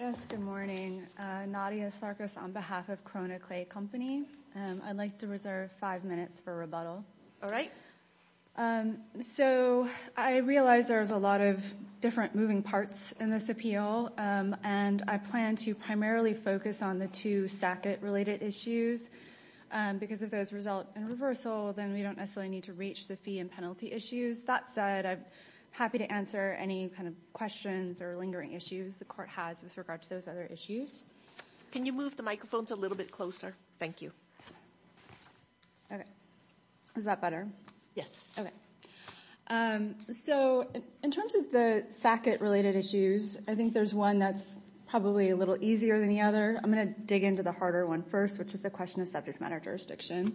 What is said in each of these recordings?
Yes, good morning. Nadia Sarkis on behalf of Corona Clay Company. I'd like to reserve five minutes for rebuttal. All right. So I realize there's a lot of different moving parts in this appeal and I plan to primarily focus on the two SACIT related issues because if those result in reversal then we don't necessarily need to reach the fee and penalty issues. That said, I'm happy to answer any kind of questions or lingering issues the court has with regard to those other issues. Can you move the microphones a little bit closer? Thank you. Okay. Is that better? Yes. Okay. So in terms of the SACIT related issues, I think there's one that's probably a little easier than the other. I'm going to dig into the harder one first, which is the question of subject matter jurisdiction.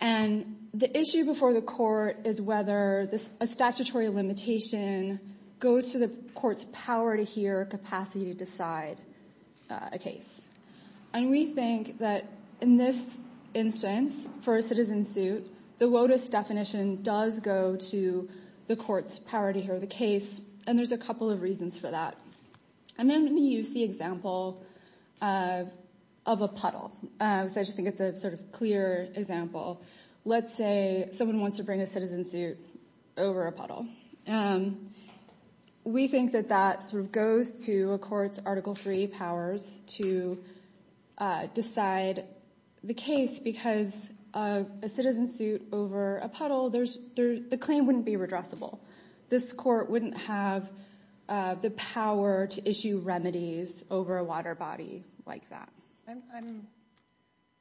And the issue before the court is whether a statutory limitation goes to the court's power to hear capacity to decide a case. And we think that in this instance, for a citizen suit, the WOTUS definition does go to the court's power to hear the case and there's a couple of reasons for that. And then let me use the example of a puddle. So I just think it's a sort of clear example. Let's say someone wants to bring a citizen suit over a puddle. We think that that sort of goes to a court's Article III powers to decide the case because a citizen suit over a puddle, the claim wouldn't be redressable. This court wouldn't have the power to issue remedies over a water body like that.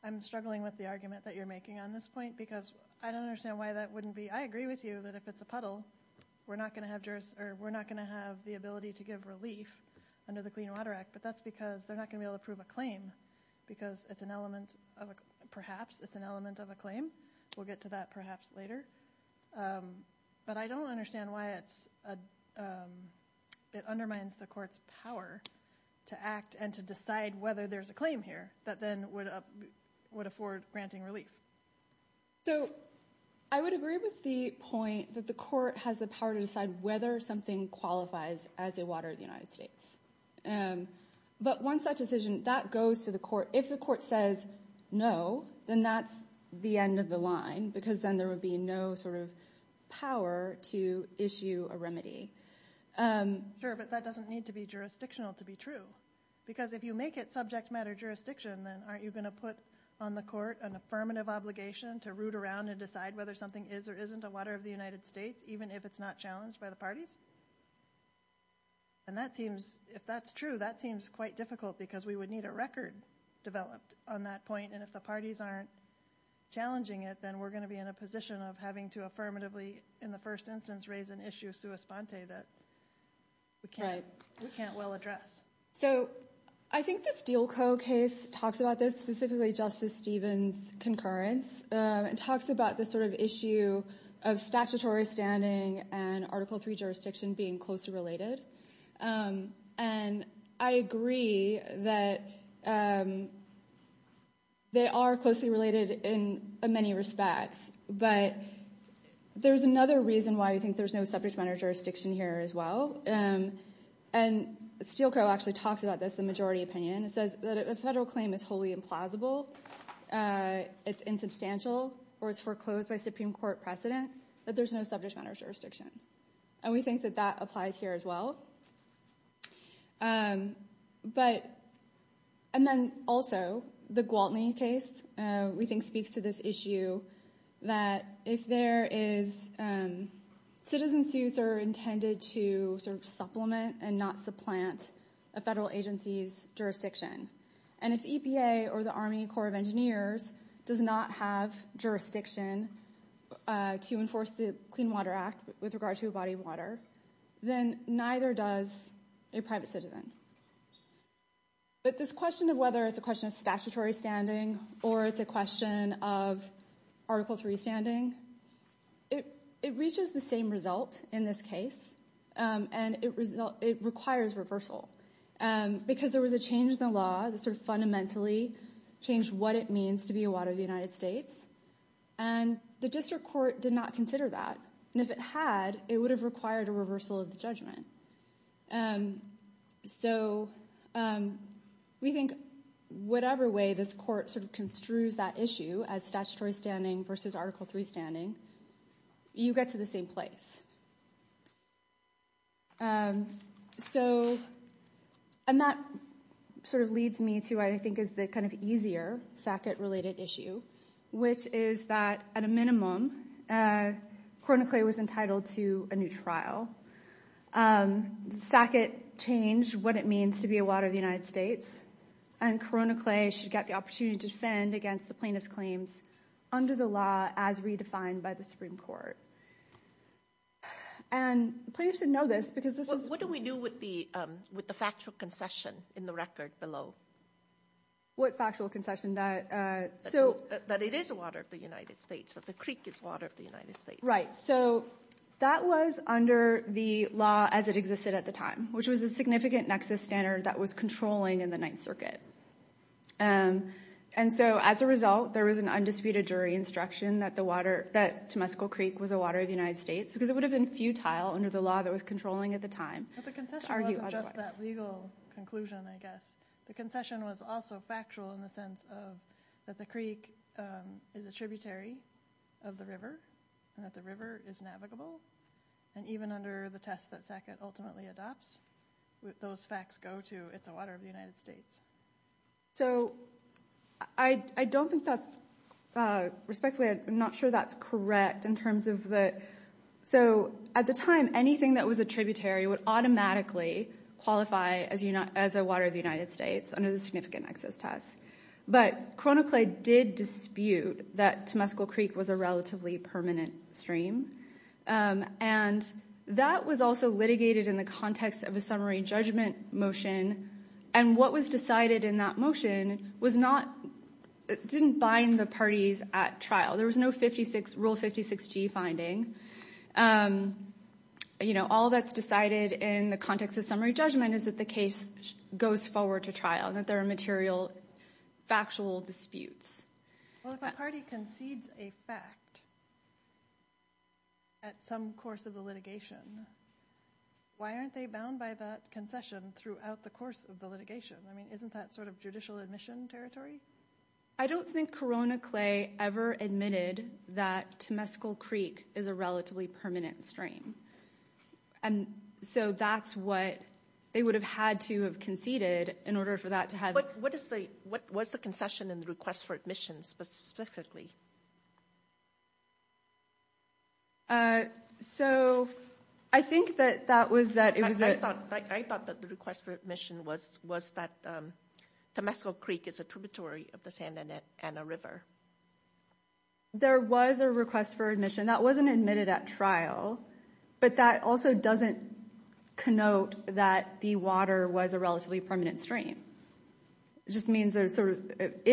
I'm struggling with the argument that you're making on this point because I don't understand why that wouldn't be. I agree with you that if it's a puddle, we're not going to have the ability to give relief under the Clean Water Act, but that's because they're not going to be able to prove a claim because it's an element of, perhaps it's an element of a claim. We'll get to that perhaps later. But I don't understand why it undermines the court's power to act and to decide whether there's a claim here that then would afford granting relief. So I would agree with the point that the court has the power to decide whether something qualifies as a water in the United States. But once that decision, that goes to the court. If the court says no, then that's the end of the line because then there would be no power to issue a remedy. Sure, but that doesn't need to be jurisdictional to be true. Because if you make it subject matter jurisdiction, then aren't you going to put on the court an affirmative obligation to root around and decide whether something is or isn't a water of the United States, even if it's not challenged by the parties? And if that's true, that seems quite difficult because we would need a record developed on that point. And if the parties aren't challenging it, then we're going to be in a position of having to affirmatively, in the first instance, raise an issue of sua sponte that we can't well address. So I think the Steele Co. case talks about this, specifically Justice Stevens' concurrence. It talks about this sort of issue of statutory standing and Article III jurisdiction being closely related. And I agree that they are closely related in many respects, but there's another reason why we think there's no subject matter jurisdiction here as well. And Steele Co. actually talks about this in the majority opinion. It says that a federal claim is wholly implausible, it's insubstantial, or it's foreclosed by Supreme Court precedent, that there's no subject matter jurisdiction. And we think that applies here as well. And then also, the Gwaltney case, we think speaks to this issue, that if there is, citizen suits are intended to sort of supplement and not supplant a federal agency's jurisdiction. And if EPA or the Army Corps of Engineers does not have jurisdiction to enforce the Clean Water Act with regard to a body of water, then neither does a private citizen. But this question of whether it's a question of statutory standing or it's a question of Article III standing, it reaches the same result in this case, and it requires reversal. Because there was a change in the law that sort of fundamentally changed what it means to be a water of the United States, and the district court did not consider that. And if it had, it would have required a reversal of the judgment. So we think whatever way this court sort of construes that issue as statutory standing versus Article III standing, you get to the same place. And that sort of leads me to what I think is the kind of easier Sackett-related issue, which is that at a minimum, Coronaclay was entitled to a new trial. Sackett changed what it means to be a water of the United States, and Coronaclay should get the opportunity to defend against the plaintiff's claims under the law as redefined by the Supreme Court. And plaintiffs should know this because this is... What do we do with the factual concession in the record below? What factual concession? That it is a water of the United States, that the creek is water of the United States. Right. So that was under the law as it existed at the time, which was a significant nexus standard that was controlling in the Ninth Circuit. And so as a result, there was an undisputed jury instruction that the water, that Temescal Creek was a water of the United States, because it would have been futile under the law that was controlling at the time. But the concession wasn't just that legal conclusion, I guess. The concession was also factual in the sense of that the creek is a tributary of the river, and that the river is navigable. And even under the test that Sackett ultimately adopts, those facts go to, it's a water of the United States. So I don't think that's... Respectfully, I'm not sure that's correct in terms of the... So at the time, anything that was a tributary would automatically qualify as a water of the United States under the significant nexus test. But ChronoClaim did dispute that Temescal Creek was a relatively permanent stream. And that was also litigated in the context of a summary judgment motion. And what was decided in that motion didn't bind the parties at trial. There was no Rule 56G finding. All that's decided in the context of summary judgment is that the case goes forward to trial, that there are material, factual disputes. Well, if a party concedes a fact at some course of the litigation, why aren't they bound by that concession throughout the course of the litigation? I mean, isn't that sort of judicial admission territory? I don't think ChronoClaim ever admitted that Temescal Creek is a relatively permanent stream. And so that's what they would have had to have conceded in order for that to have... What was the concession and the request for admission specifically? I thought that the request for admission was that Temescal Creek is a tributary of the Santa Ana River. There was a request for admission. That wasn't admitted at trial. But that also doesn't connote that the water was a relatively permanent stream. It just means there's sort of...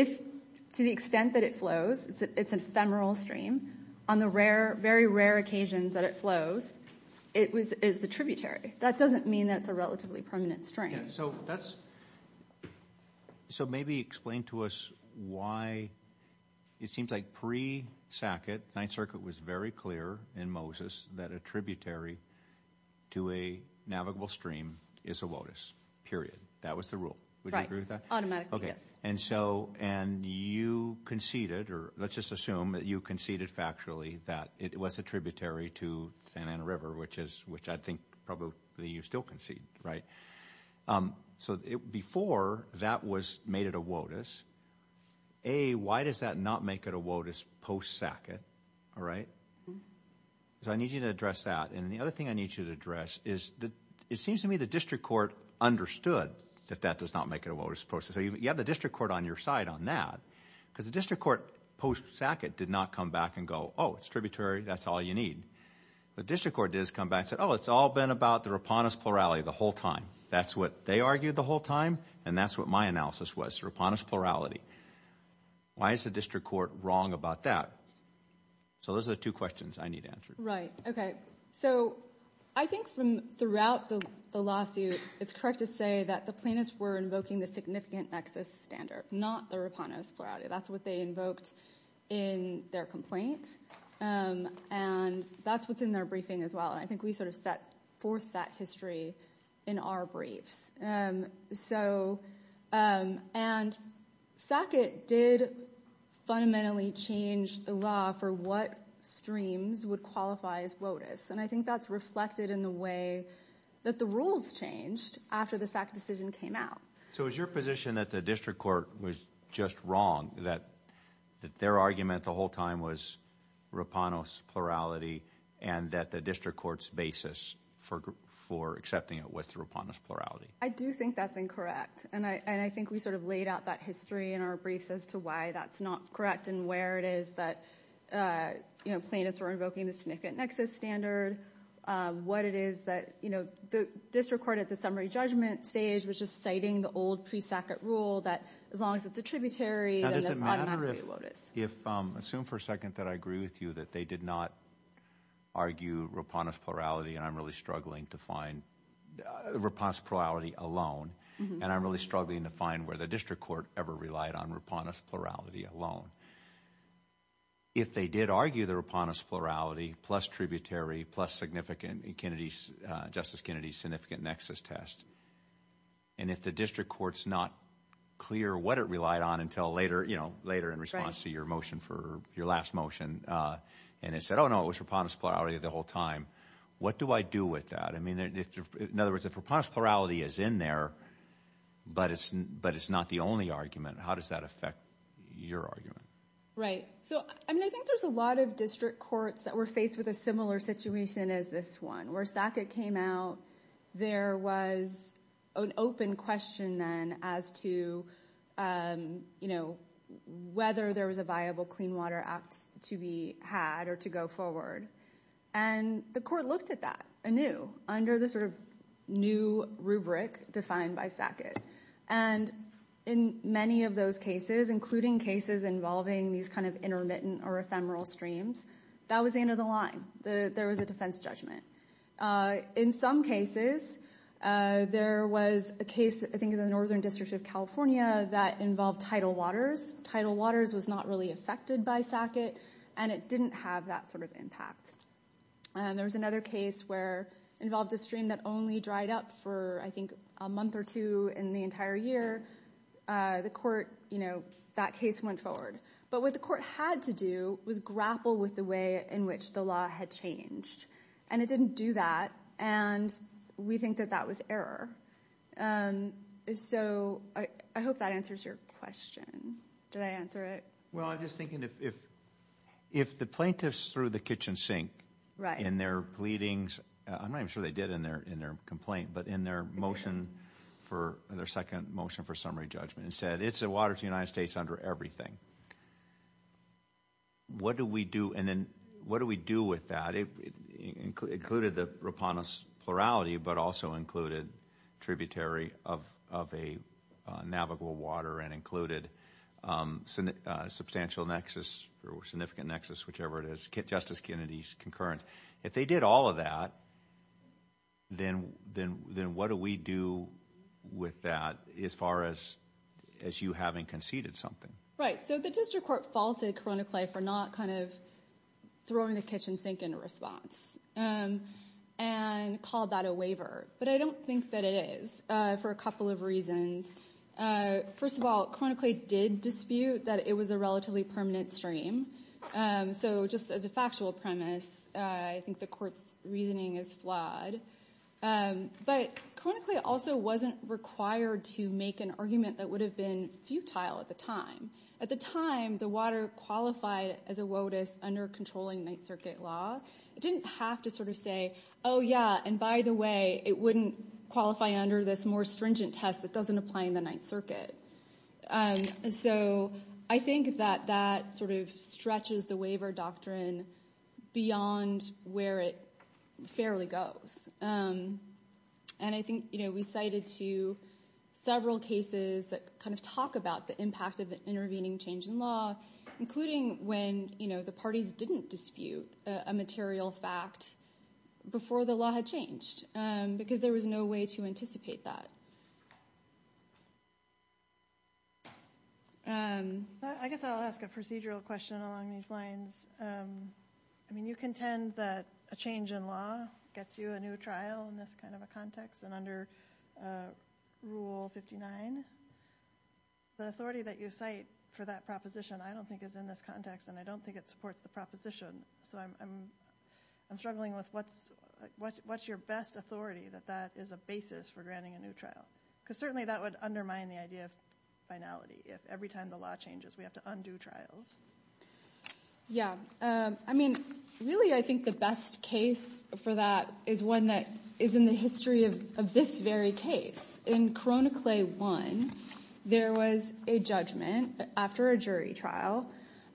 To the extent that it flows, it's an ephemeral stream. On the very rare occasions that it flows, it is a tributary. That doesn't mean that it's a relatively permanent stream. So maybe explain to us why it seems like pre-Sackett, Ninth Circuit was very clear in Moses that a tributary to a navigable stream is a lotus, period. That was the rule. Would you agree with that? Let's just assume that you conceded factually that it was a tributary to Santa Ana River, which I think probably you still conceded, right? So before that was made it a lotus, A, why does that not make it a lotus post-Sackett? All right? So I need you to address that. And the other thing I need you to address is that it seems to me the district court understood that that does not make it a lotus post-Sackett. So you have the district court on your side on that because the district court post-Sackett did not come back and go, oh, it's tributary, that's all you need. The district court does come back and say, oh, it's all been about the Raponese plurality the whole time. That's what they argued the whole time and that's what my analysis was, Raponese plurality. Why is the district court wrong about that? So those are the two questions I need answered. Right. Okay. So I think from throughout the lawsuit, it's correct to say that the plaintiffs were invoking the significant nexus standard, not the Raponese plurality. That's what they invoked in their complaint. And that's what's in their briefing as well. I think we sort of set forth that history in our briefs. And Sackett did fundamentally change the law for what streams would qualify as lotus. And I think that's reflected in the way that the rules changed after the Sackett decision came out. So is your position that the district court was just wrong, that their argument the whole time was Raponese plurality and that the district court's basis for accepting it was the Raponese plurality? I do think that's incorrect. And I think we sort of laid out that history in our briefs as to why that's not correct and where it is that plaintiffs were invoking the significant nexus standard. What it is that the district court at the summary judgment stage was just citing the old pre-Sackett rule that as long as it's a tributary, then that's automatically lotus. Now does it matter if, assume for a second that I agree with you that they did not argue Raponese plurality and I'm really struggling to find Raponese plurality alone. And I'm really struggling to find where the district court ever relied on Raponese plurality alone. If they did argue the Raponese plurality plus tributary, plus significant in Kennedy's, Justice Kennedy's significant nexus test, and if the district court's not clear what it relied on until later, you know, later in response to your motion for your last motion, and it said, oh no, it was Raponese plurality the whole time. What do I do with that? In other words, if Raponese plurality is in there but it's not the only argument, how does that affect your argument? Right, so I mean I think there's a lot of district courts that were faced with a similar situation as this one. Where Sackett came out, there was an open question then as to, you know, whether there was a viable Clean Water Act to be had or to go forward. And the court looked at that anew under the sort of new rubric defined by Sackett. And in many of those cases, including cases involving these kind of intermittent or ephemeral streams, that was the end of the line. There was a defense judgment. In some cases, there was a case, I think, in the Northern District of California that involved tidal waters. Tidal waters was not really affected by Sackett and it didn't have that sort of impact. And there was another case where it involved a stream that only dried up for, I think, a month or two in the entire year. The court, you know, that case went forward. But what the court had to do was grapple with the way in which the law had changed. And it didn't do that, and we think that that was error. So I hope that answers your question. Did I answer it? Well, I'm just thinking if the plaintiffs threw the kitchen sink in their pleadings, I'm not even sure they did in their complaint, but in their motion for their second motion for summary judgment and said, it's a water to the United States under everything. What do we do? And then what do we do with that? It included the riponus plurality, but also included tributary of a navigable water and included substantial nexus or significant nexus, whichever it is, Justice Kennedy's concurrent. If they did all of that, then what do we do with that as far as you having conceded something? Right. So the district court faulted Coronaclay for not kind of throwing the kitchen sink in response and called that a waiver. But I don't think that it is, for a couple of reasons. First of all, Coronaclay did dispute that it was a relatively permanent stream. So just as a factual premise, I think the court's reasoning is flawed. But Coronaclay also wasn't required to make an argument that would have been futile at the time. At the time, the water qualified as a WOTUS under controlling Ninth Circuit law. It didn't have to sort of say, oh yeah, and by the way, it wouldn't qualify under this more stringent test that doesn't apply in the Ninth Circuit. So I think that that sort of stretches the waiver doctrine beyond where it fairly goes. And I think we cited to several cases that kind of talk about the impact of intervening change in law, including when the parties didn't dispute a material fact, before the law had changed, because there was no way to anticipate that. I guess I'll ask a procedural question along these lines. I mean, you contend that a change in law gets you a new trial in this kind of a context and under Rule 59. The authority that you cite for that proposition, I don't think is in this context, and I don't think it supports the proposition. So I'm struggling with what's your best authority that that is a basis for granting a new trial? Because certainly that would undermine the idea of finality, if every time the law changes, we have to undo trials. Yeah. I mean, really, I think the best case for that is one that is in the history of this very case. In Corona Clay 1, there was a judgment after a jury trial,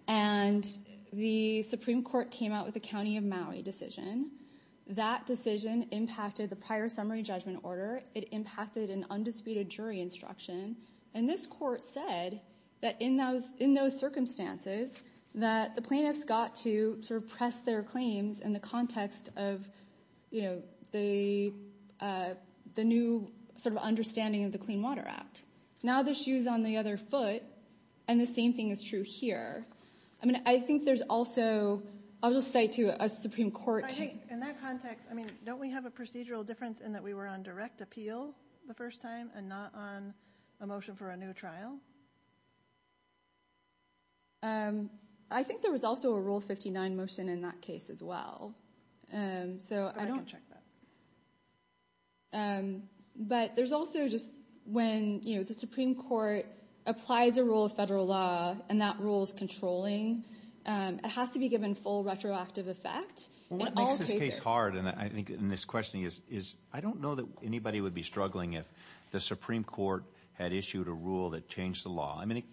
and the Supreme Court came out with a county of Maui decision. That decision impacted the prior summary judgment order. It impacted an undisputed jury instruction. And this court said that in those circumstances, that the plaintiffs got to sort of press their claims in the context of, you know, the new sort of understanding of the Clean Water Act. Now the shoe's on the other foot, and the same thing is true here. I mean, I think there's also, I'll just say to a Supreme Court. I think in that context, I mean, don't we have a procedural difference in that we were on direct appeal the first time and not on a motion for a new trial? I think there was also a Rule 59 motion in that case as well. So I don't check that. But there's also just when, you know, the Supreme Court applies a rule of federal law, and that rule is controlling, it has to be given full retroactive effect. Well, what makes this case hard, and I think in this questioning, is I don't know that anybody would be struggling if the Supreme Court had issued a rule that changed the law. I mean,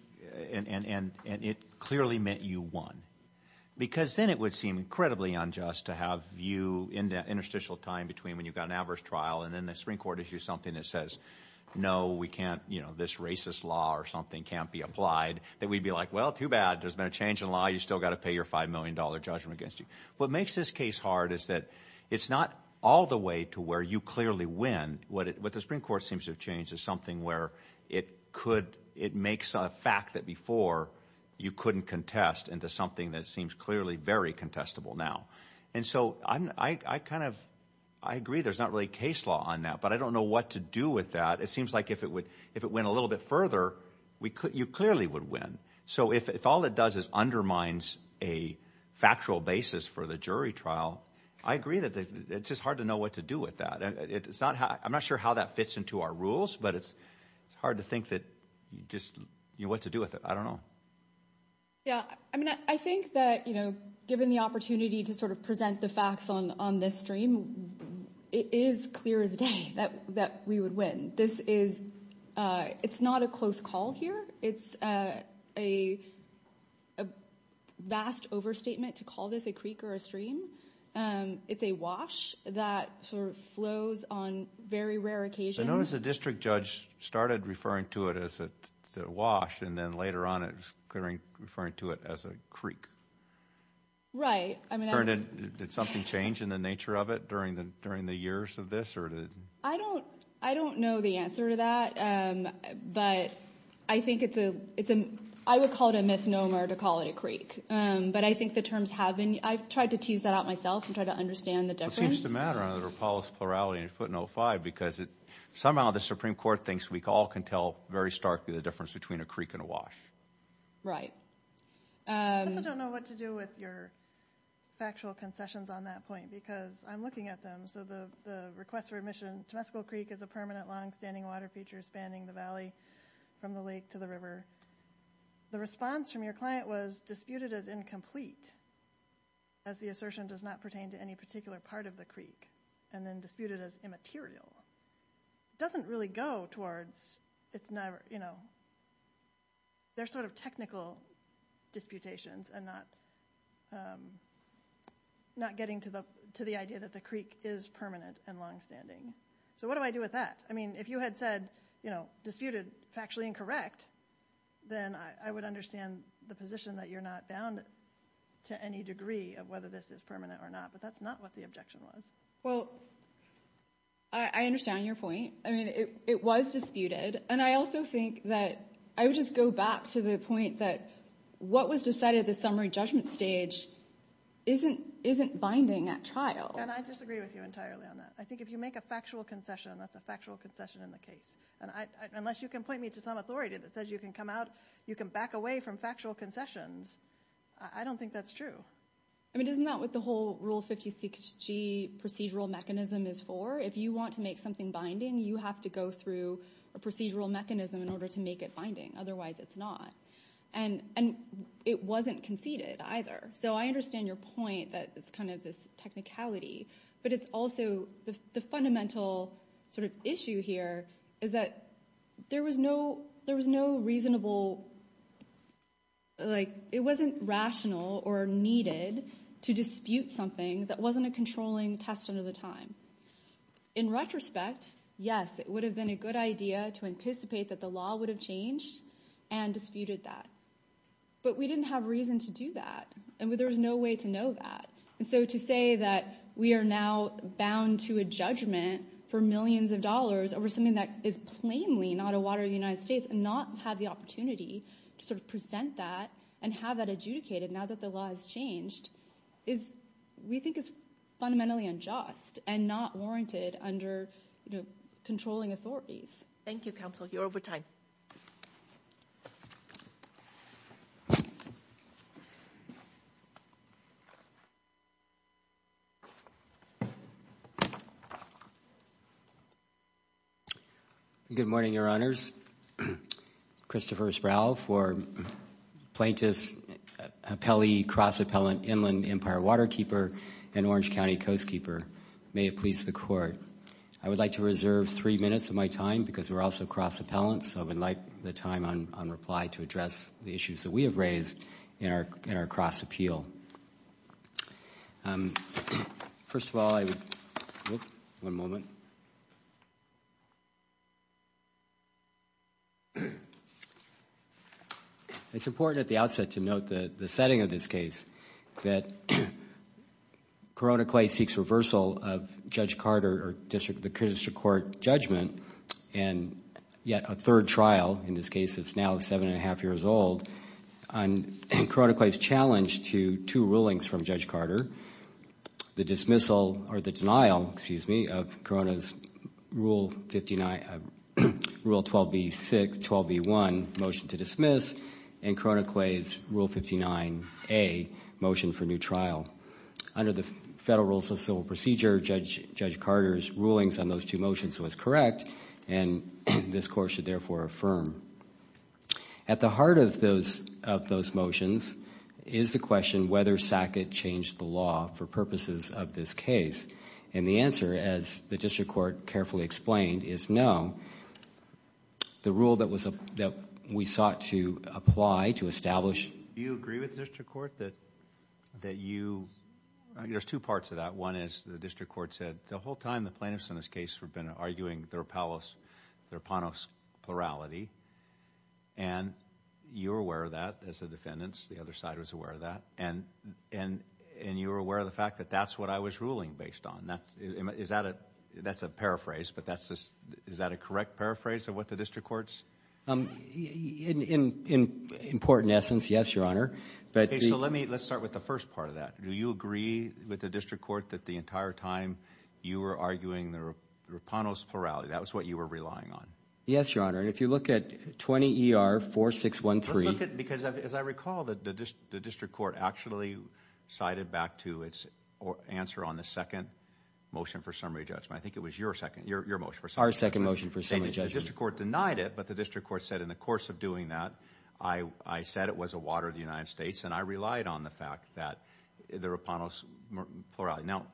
and it clearly meant you won. Because then it would seem incredibly unjust to have you in that interstitial time between when you've got an adverse trial, and then the Supreme Court issues something that says, no, we can't, you know, this racist law or something can't be applied, that we'd be like, well, too bad. There's been a change in law. You still got to pay your $5 million judgment against you. What makes this case hard is that it's not all the way to where you clearly win. What the Supreme Court seems to have changed is something where it could, it makes a fact that before you couldn't contest into something that seems clearly very contestable now. And so I kind of, I agree there's not really a case law on that, but I don't know what to do with that. It seems like if it went a little bit further, you clearly would win. So if all it does is undermines a factual basis for the jury trial, I agree that it's just hard to know what to do with that. I'm not sure how that fits into our rules, but it's hard to think that you just, you know, what to do with it. I don't know. Yeah, I mean, I think that, given the opportunity to sort of present the facts on this stream, it is clear as day that we would win. This is, it's not a close call here. It's a vast overstatement to call this a creek or a stream. It's a wash that sort of flows on very rare occasions. I noticed the district judge started referring to it as a wash, and then later on it was referring to it as a creek. Right. I mean, did something change in the nature of it during the years of this? I don't know the answer to that, but I think it's a, I would call it a misnomer to call it a creek, but I think the terms have been, I've tried to tease that out myself and try to understand the difference. It seems to matter on the Rapallo's plurality and putting 0-5 because somehow the Supreme Court thinks we all can tell very starkly the difference between a creek and a wash. Right. I also don't know what to do with your factual concessions on that point, because I'm looking at them. So the request for admission, Temescal Creek is a permanent longstanding water feature spanning the valley from the lake to the river. The response from your client was disputed as incomplete, as the assertion does not pertain to any particular part of the creek, and then disputed as immaterial. It doesn't really go towards, it's never, you know, they're sort of technical disputations and not not getting to the idea that the creek is permanent and longstanding. So what do I do with that? I mean, if you had said, you know, disputed factually incorrect, then I would understand the position that you're not bound to any degree of whether this is permanent or not, that's not what the objection was. Well, I understand your point. I mean, it was disputed, and I also think that I would just go back to the point that what was decided at the summary judgment stage isn't binding at trial. And I disagree with you entirely on that. I think if you make a factual concession, that's a factual concession in the case. Unless you can point me to some authority that says you can come out, you can back away from factual concessions. I don't think that's true. I mean, isn't that what the whole Rule 56G procedural mechanism is for? If you want to make something binding, you have to go through a procedural mechanism in order to make it binding. Otherwise, it's not. And it wasn't conceded either. So I understand your point that it's kind of this technicality, but it's also the fundamental sort of issue here is that there was no reasonable... It wasn't rational or needed to dispute something that wasn't a controlling test under the time. In retrospect, yes, it would have been a good idea to anticipate that the law would have changed and disputed that. But we didn't have reason to do that, and there was no way to know that. And so to say that we are now bound to a judgment for millions of dollars over something that is plainly not a water of the United States and not have the opportunity to sort of present that and have that adjudicated now that the law has changed is... We think it's fundamentally unjust and not warranted under controlling authorities. Thank you, counsel. You're over time. Good morning, Your Honors. Christopher Sproul for Plaintiffs' Appellee, Cross Appellant, Inland Empire Waterkeeper, and Orange County Coastkeeper. May it please the Court. I would like to reserve three minutes of my time because we're also cross appellants, so I would like the time on reply to address the issues that we have raised in our cross appeal. First of all, I would... One moment. It's important at the outset to note the setting of this case, that Corona Clay seeks reversal of Judge Carter or the District Court judgment and yet a third trial, in this case it's now seven and a half years old, on Corona Clay's challenge to two rulings from Judge Carter. The dismissal or the denial, excuse me, of Corona's Rule 12b6, 12b1 motion to dismiss and Corona Clay's Rule 59a motion for new trial. Under the Federal Rules of Civil Procedure, Judge Carter's rulings on those two motions was correct and this Court should therefore affirm. At the heart of those motions is the question whether Sackett changed the law for purposes of this case and the answer, as the District Court carefully explained, is no. The rule that we sought to apply, to establish... Do you agree with the District Court that you... There's two parts of that. One is the District Court said the whole time the plaintiffs in this case have been arguing their palace, their panos plurality and you're aware of that as the defendants, the other side was aware of that, and you're aware of the fact that that's what I was ruling based on. That's a paraphrase, but is that a correct paraphrase of what the first part of that? Do you agree with the District Court that the entire time you were arguing the panos plurality, that was what you were relying on? Yes, Your Honor, and if you look at 20 ER 4613... Because as I recall, the District Court actually cited back to its answer on the second motion for summary judgment. I think it was your motion for summary judgment. Our second motion for summary judgment. The District Court denied it, but the District Court said in the course of doing that, I said it was a water of the United States and I relied on the fact that the panos plurality... Now,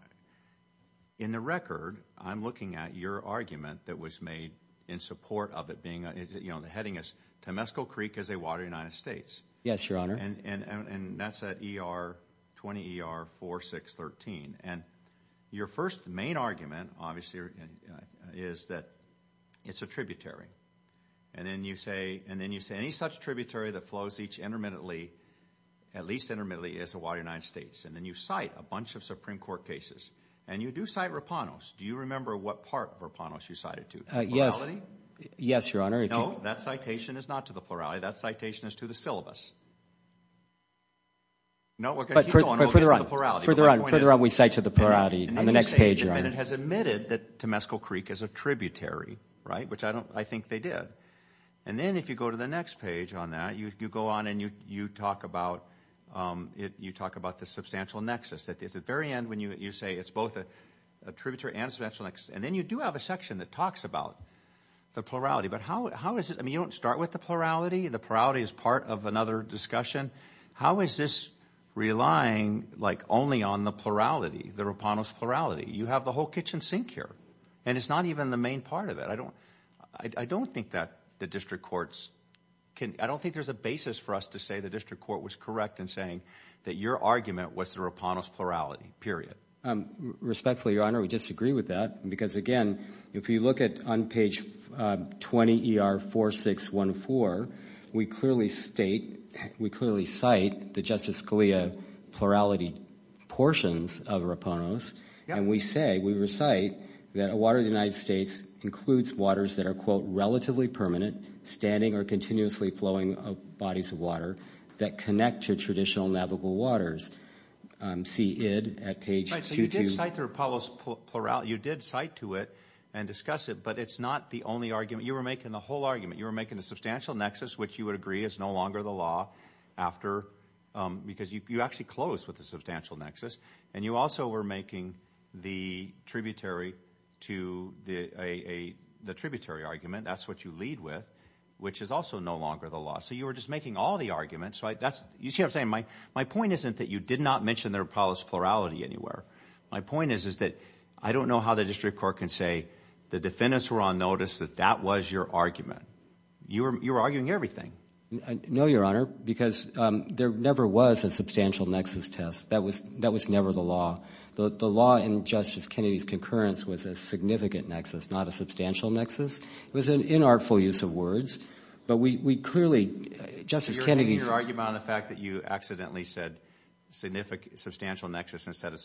in the record, I'm looking at your argument that was made in support of it being... The heading is Temescal Creek is a water of the United States. Yes, Your Honor. And that's at ER 20 ER 4613. And your first main argument, obviously, is that it's a tributary. And then you say any such tributary that flows each intermittently, at least intermittently, is a water of the United States. And then you cite a bunch of Supreme Court cases. And you do cite Rapanos. Do you remember what part of Rapanos you cited to? Yes. Yes, Your Honor. No, that citation is not to the plurality. That citation is to the syllabus. No, we're going to keep going until we get to the plurality. But further on, we cite to the plurality on the next page, Your Honor. It has admitted that Temescal Creek is a tributary, which I think they did. And then if you go to the next page on that, you go on and you talk about the substantial nexus. It's at the very end when you say it's both a tributary and a substantial nexus. And then you do have a section that talks about the plurality. But how is it... I mean, you don't start with the plurality. The plurality is part of another discussion. How is this relying only on the the Rapanos plurality? You have the whole kitchen sink here. And it's not even the main part of it. I don't think there's a basis for us to say the district court was correct in saying that your argument was the Rapanos plurality, period. Respectfully, Your Honor, we disagree with that. Because again, if you look on page 20 ER 4614, we clearly state, we clearly cite the Justice Scalia plurality portions of Rapanos. And we say, we recite that a water of the United States includes waters that are, quote, relatively permanent, standing or continuously flowing bodies of water that connect to traditional navigable waters. See id at page 22. So you did cite the Rapanos plurality. You did cite to it and discuss it. But it's not the only argument. You were making the whole argument. You were substantial nexus, which you would agree is no longer the law after because you actually closed with the substantial nexus. And you also were making the tributary to the a the tributary argument. That's what you lead with, which is also no longer the law. So you were just making all the arguments, right? That's you see, I'm saying my my point isn't that you did not mention the Rapanos plurality anywhere. My point is, is that I don't know how the district court can say the defendants were on notice that that was your argument. You were arguing everything. No, Your Honor, because there never was a substantial nexus test. That was that was never the law. The law in Justice Kennedy's concurrence was a significant nexus, not a substantial nexus. It was an inartful use of words. But we clearly Justice Kennedy's argument on the fact that you accidentally said significant substantial nexus instead of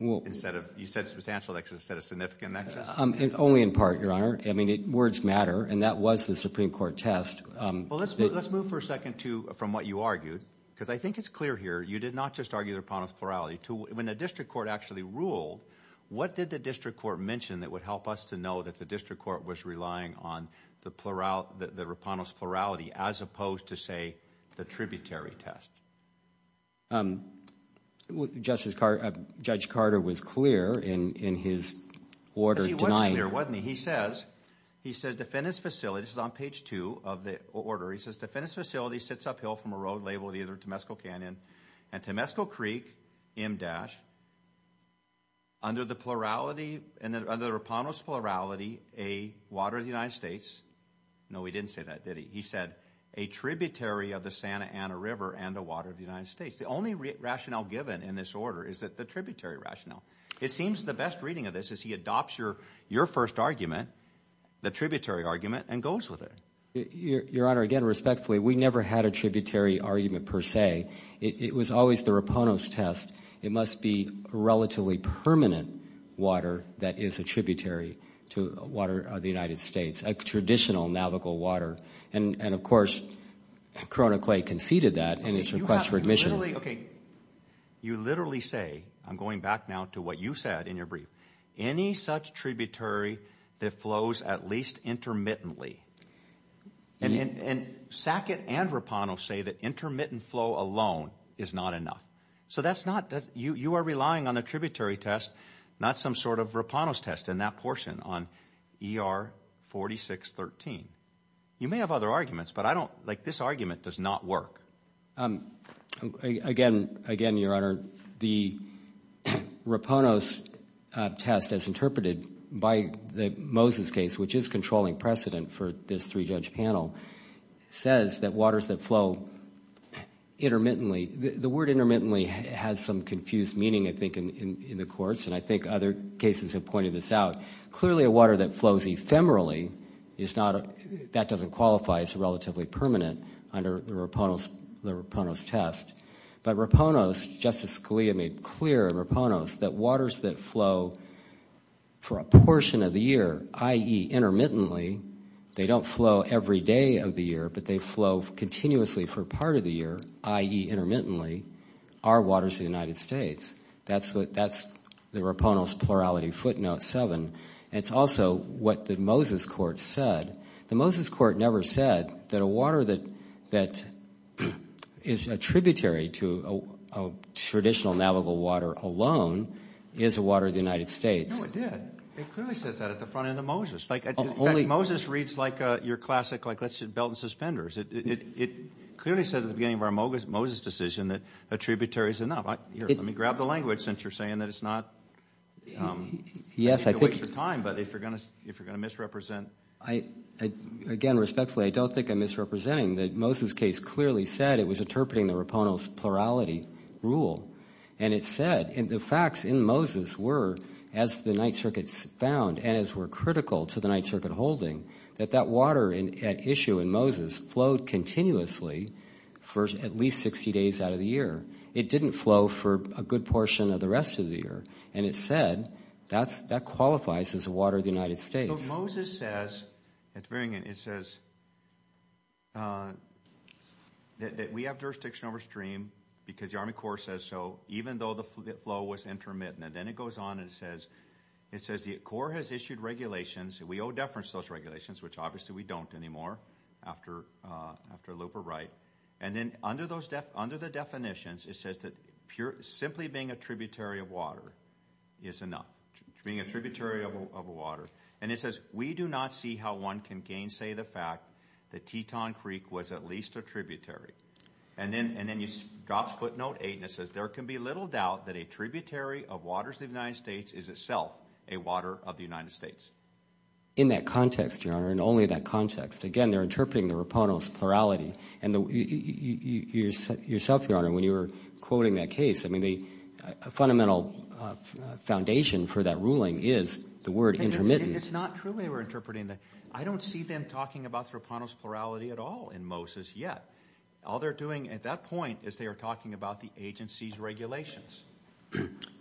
instead of you said substantial nexus instead of significant nexus. Only in part, Your Honor. I mean, words matter. And that was the Supreme Court test. Well, let's let's move for a second to from what you argued, because I think it's clear here. You did not just argue the Rapanos plurality to when the district court actually ruled. What did the district court mention that would help us to know that the district court was relying on the plurality, the Rapanos plurality, as opposed to, say, the tributary test? Um, well, Justice Carter, Judge Carter was clear in in his order. He was clear, wasn't he? He says he said defendants facility is on page two of the order. He says defendants facility sits uphill from a road labeled either Temesco Canyon and Temesco Creek M-Dash. Under the plurality and the Rapanos plurality, a water of the United States. No, he didn't say that, did he? He said a tributary of the Santa Ana River and a water of the United States. The only rationale given in this order is that the tributary rationale. It seems the best reading of this is he adopts your your first argument, the tributary argument and goes with it. Your Honor, again, respectfully, we never had a tributary argument per se. It was always the Rapanos test. It must be relatively permanent water that is a tributary to water of the United States, a traditional navigable water. And of course, Corona Clay conceded that in its request for admission. You literally say, I'm going back now to what you said in your brief, any such tributary that flows at least intermittently. And Sackett and Rapanos say that intermittent flow alone is not enough. So that's not that you are relying on a tributary test, not some sort of Rapanos test in that portion on ER 4613. You may have other arguments, but I don't like this argument does not work. Again, again, Your Honor, the Rapanos test, as interpreted by the Moses case, which is controlling precedent for this three judge panel, says that waters that flow intermittently, the word intermittently has some confused meaning, I think, in the courts. And I think other cases have pointed this out. Clearly, a water that flows ephemerally, that doesn't qualify as relatively permanent under the Rapanos test. But Rapanos, Justice Scalia made clear in Rapanos that waters that flow for a portion of the year, i.e. intermittently, they don't flow every day of the year, but they flow continuously for part of the year, i.e. intermittently, are waters of the United States. That's the Rapanos plurality footnote seven. It's also what the Moses court said. The Moses court never said that a water that is a tributary to a traditional navigable water alone is a water of the United States. No, it did. It clearly says that at the front end of Moses. In fact, Moses reads like your classic, like, let's do belt and suspenders. It clearly says at the beginning of our Moses decision that a tributary is enough. Here, let me grab the language since you're saying that it's not a waste of time. But if you're going to misrepresent... Again, respectfully, I don't think I'm misrepresenting. The Moses case clearly said it was interpreting the Rapanos plurality rule. And it said, and the facts in Moses were, as the Ninth Circuit found and as were critical to the Ninth Circuit holding, that that water at issue in Moses flowed continuously for at least 60 days out of the year. It didn't flow for a good portion of the rest of the year. And it said that qualifies as a water of the United States. So Moses says, at the very end, it says that we have jurisdiction over stream because the Army Corps says so, even though the flow was intermittent. And then it goes on and it says, it says the Corps has issued regulations. We owe deference to those regulations, which obviously we don't anymore after a loop of right. And then under the definitions, it says that simply being a tributary of water is enough, being a tributary of water. And it says, we do not see how one can gainsay the fact that Teton Creek was at least a tributary. And then it drops footnote eight and it says, there can be little doubt that a tributary of waters of the United States is itself a water of the United States. In that context, Your Honor, and only that context, again, they're interpreting the Raponos plurality. And you yourself, Your Honor, when you were quoting that case, I mean, the fundamental foundation for that ruling is the word intermittent. It's not true they were interpreting that. I don't see them talking about the Raponos plurality at all in Moses yet. All they're doing at that point is they are talking about the agency's regulations.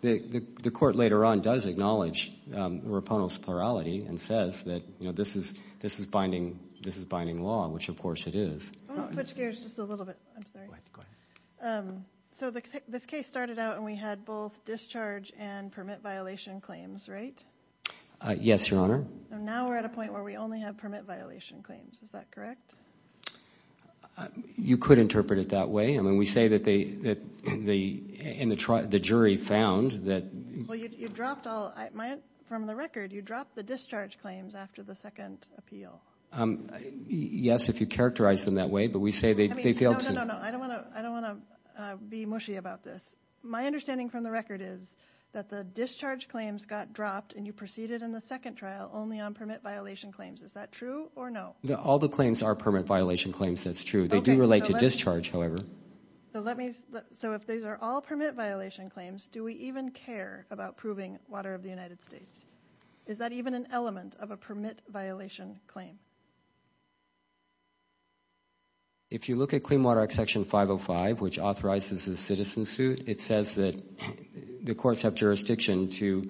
The court later on does acknowledge Raponos plurality and says that, you know, this is binding law, which of course it is. I want to switch gears just a little bit. So this case started out and we had both discharge and permit violation claims, right? Yes, Your Honor. Now we're at a point where we only have permit violation claims. Is that correct? You could interpret it that way. I mean, we say that the jury found that... Well, you dropped all... From the record, you dropped the discharge claims after the second appeal. Yes, if you characterize them that way, but we say they failed to... No, no, no, no. I don't want to be mushy about this. My understanding from the record is that the discharge claims got dropped and you proceeded in the second trial only on permit violation claims. Is that true or no? All the claims are permit violation claims. That's true. They do relate to discharge, however. So if these are all permit violation claims, do we even care about proving water of the United States? Is that even an element of a permit violation claim? If you look at Clean Water Act Section 505, which authorizes the citizen suit, it says that the courts have jurisdiction to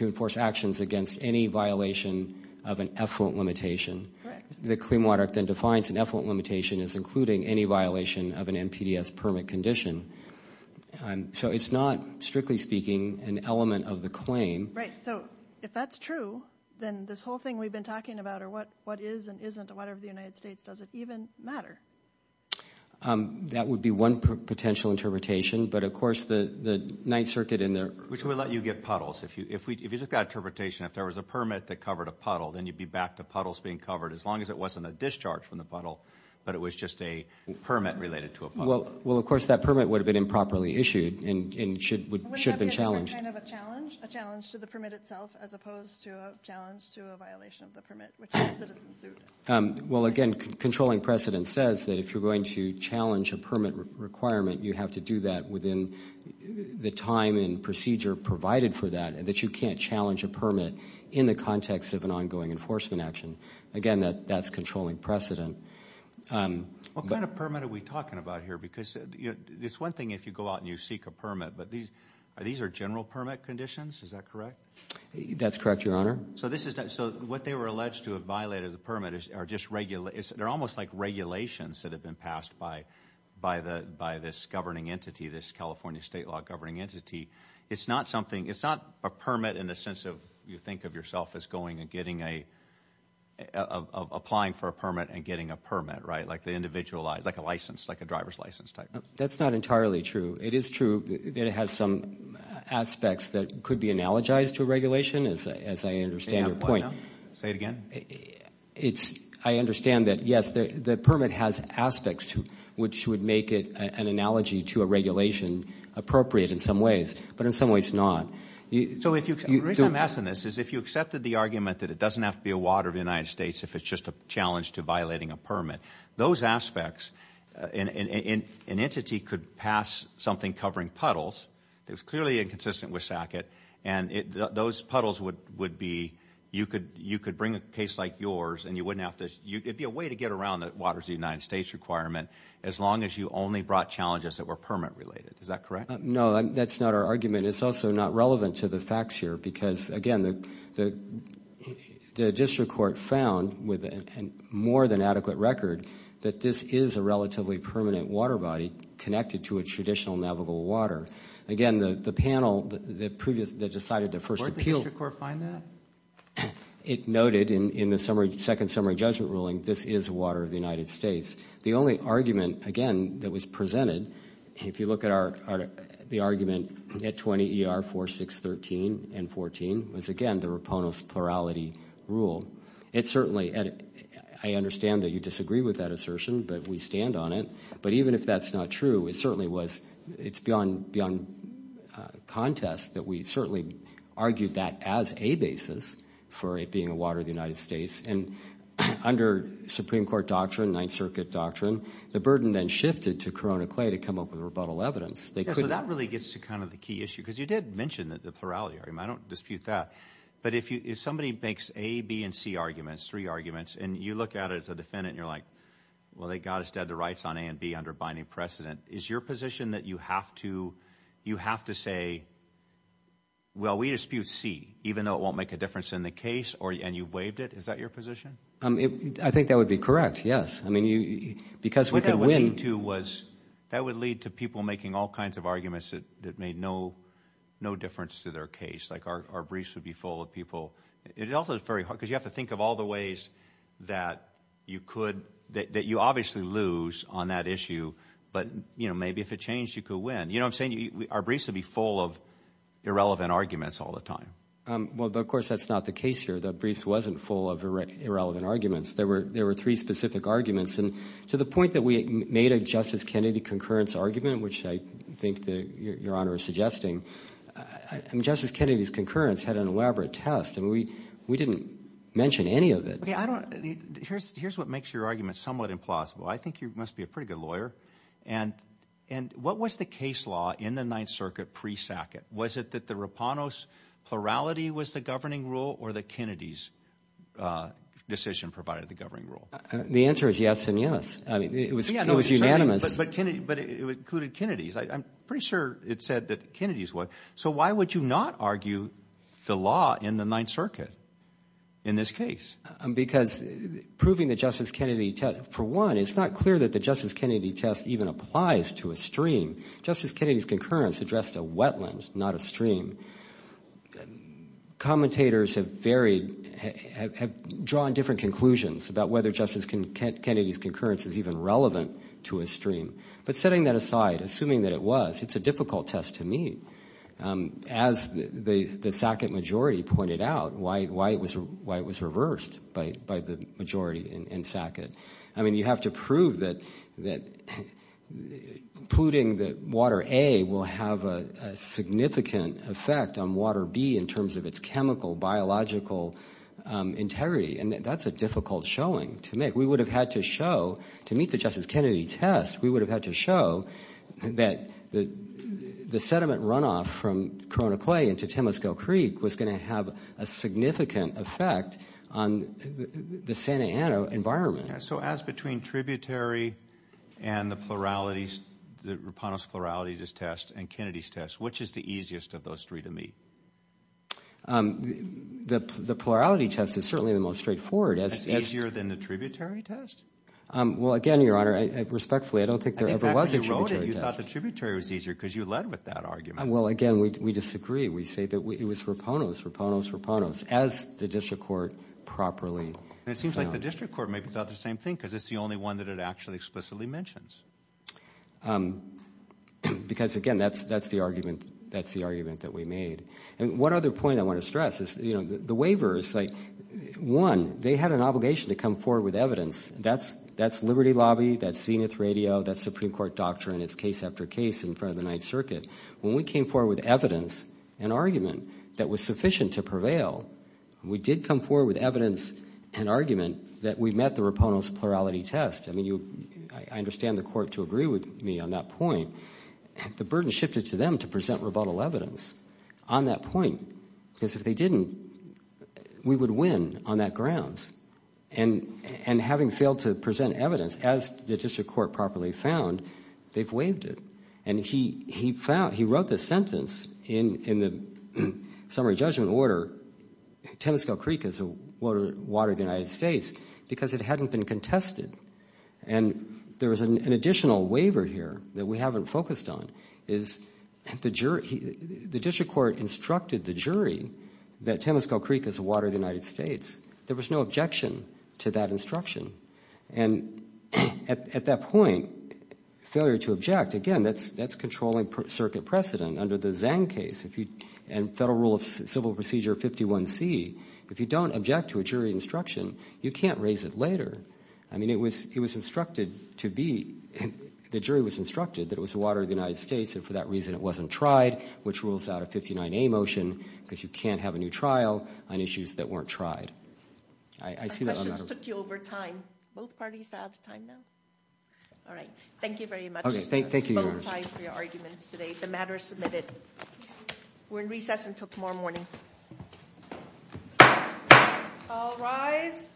enforce actions against any violation of an effluent limitation. The Clean Water Act then defines an effluent limitation as including any violation of an NPDES permit condition. So it's not, strictly speaking, an element of the claim. Right. So if that's true, then this whole thing we've been talking about, or what is and isn't, whatever the United States, does it even matter? That would be one potential interpretation. But of course, the Ninth Circuit and their... Which would let you get puddles. If you look at that interpretation, if there was a permit that covered a puddle, then you'd be back to puddles being covered, as long as it wasn't a discharge from the puddle, but it was just a permit related to a puddle. Well, of course, that permit would have been improperly issued and should have been challenged. Wouldn't that be kind of a challenge, a challenge to the permit itself, as opposed to a challenge to a violation of the permit, which is a citizen suit? Well, again, controlling precedent says that if you're going to challenge a permit requirement, you have to do that within the time and procedure provided for that, that you can't challenge a permit in the context of an ongoing enforcement action. Again, that's controlling precedent. What kind of permit are we talking about here? Because it's one thing if you go out and you seek a permit, but these are general permit conditions, is that correct? That's correct, Your Honor. So this is... So what they were alleged to have violated as a permit are just regulations. They're almost like regulations that have been passed by this governing entity, this California state law governing entity. It's not a permit in the sense of you think of yourself as going and getting a... applying for a permit and getting a permit, right? Like the individualized, like a license, like a driver's license type. That's not entirely true. It is true that it has some aspects that could be analogized to a regulation, as I understand your point. Say it again. I understand that, yes, the permit has aspects to which would make it an analogy to a regulation appropriate in some ways, but in some ways not. So the reason I'm asking this is if you accepted the argument that it doesn't have to be a water of the United States if it's just a challenge to violating a permit, those aspects... An entity could pass something covering puddles. It was clearly inconsistent with SACIT. And those puddles would be... You could bring a case like yours and you wouldn't have to... It'd be a way to get around the waters of the United States requirement as long as you only brought challenges that were permit related. Is that correct? No, that's not our argument. It's also not relevant to the facts here because, again, the district court found with more than adequate record that this is a relatively permanent water body connected to a traditional navigable water. Again, the panel that decided the first appeal... Where did the district court find that? It noted in the second summary judgment ruling this is water of the United States. The only argument, again, that was presented, if you look at the argument at 20 ER 4613 and 14, was, again, the Raponos plurality rule. It certainly... I understand that you disagree with that assertion, but we stand on it. But even if that's not true, it certainly was... It's beyond contest that we certainly argued that as a basis for it being a water of the United States. Under Supreme Court doctrine, Ninth Circuit doctrine, the burden then shifted to Corona Clay to come up with rebuttal evidence. Yeah, so that really gets to kind of the key issue because you did mention that the plurality. I don't dispute that. But if somebody makes A, B, and C arguments, three arguments, and you look at it as a defendant, you're like, well, they got us dead to rights on A and B under binding precedent. Is your position that you have to say, well, we dispute C even though it won't make a difference in the case and you waived it? Is that your position? I think that would be correct, yes. I mean, because we could win... What that would lead to was, that would lead to people making all kinds of arguments that made no difference to their case. Like, our briefs would be full of people. It also is very hard because you have to think of all the ways that you obviously lose on that issue. But maybe if it changed, you could win. You know what I'm saying? Our briefs would be full of irrelevant arguments all the time. Well, but of course, that's not the case here. The briefs wasn't full of irrelevant arguments. There were three specific arguments. And to the point that we made a Justice Kennedy concurrence argument, which I think that Your Honor is suggesting, Justice Kennedy's concurrence had an elaborate test, and we didn't mention any of it. Here's what makes your argument somewhat implausible. I think you must be a pretty good lawyer. And what was the case law in the Ninth Circuit pre-Sackett? Was it that the Rapanos plurality was the governing rule or that Kennedy's decision provided the governing rule? The answer is yes and yes. I mean, it was unanimous. But it included Kennedy's. I'm pretty sure it said that Kennedy's was. So why would you not argue the law in the Ninth Circuit in this case? Because proving the Justice Kennedy test, for one, it's not clear that the Justice Kennedy test even applies to a stream. Justice Kennedy's concurrence addressed a wetland, not a stream. Commentators have drawn different conclusions about whether Justice Kennedy's concurrence is even relevant to a stream. But setting that aside, assuming that it was, it's a difficult test to meet. As the Sackett majority pointed out, why it was reversed by the majority in Sackett. I mean, you have to prove that polluting Water A will have a significant effect on Water B in terms of its chemical, biological integrity. And that's a difficult showing to make. We would have had to show, to meet the Justice Kennedy test, we would have had to show that the sediment runoff from Corona Clay into Temascale Creek was going to have a significant effect on the Santa Ana environment. So as between tributary and the pluralities, the Raponos pluralities test and Kennedy's test, which is the easiest of those three to meet? The plurality test is certainly the most straightforward. It's easier than the tributary test? Well, again, Your Honor, respectfully, I don't think there ever was a tributary test. You thought the tributary was easier because you led with that argument. Well, again, we disagree. We say that it was Raponos, Raponos, Raponos, as the district court properly found. It seems like the district court may have thought the same thing because it's the only one that it actually explicitly mentions. Because, again, that's the argument that we made. And one other point I want to stress is the waivers, one, they had an obligation to come forward with evidence. That's Liberty Lobby, that's Zenith Radio, that's Supreme Court doctrine, it's case after case in front of the Ninth Circuit. When we came forward with evidence, an argument that was sufficient to prevail, we did come forward with evidence and argument that we met the Raponos plurality test. I mean, I understand the court to agree with me on that point. The burden shifted to them to present rebuttal evidence on that point because if they didn't, we would win on that grounds. And having failed to present evidence, as the district court properly found, they've waived it. And he wrote the sentence in the summary judgment order, Tennesco Creek is the water of the United States, because it hadn't been contested. And there was an additional waiver here that we haven't focused on, is the district court instructed the jury that Tennesco Creek is the water of the United States. There was no objection to that instruction. And at that point, failure to object, again, that's controlling circuit precedent under the Zhang case. And Federal Rule of Civil Procedure 51C, if you don't object to a jury instruction, you can't raise it later. I mean, it was instructed to be, the jury was instructed that it was the water of the United States, and for that reason, it wasn't tried, which rules out a 59A motion, because you can't have a new trial on issues that weren't tried. Our questions took you over time. Both parties have time now? All right. Thank you very much. Okay, thank you, Your Honor. I vote aye for your arguments today. The matter is submitted. We're in recess until tomorrow morning. All rise.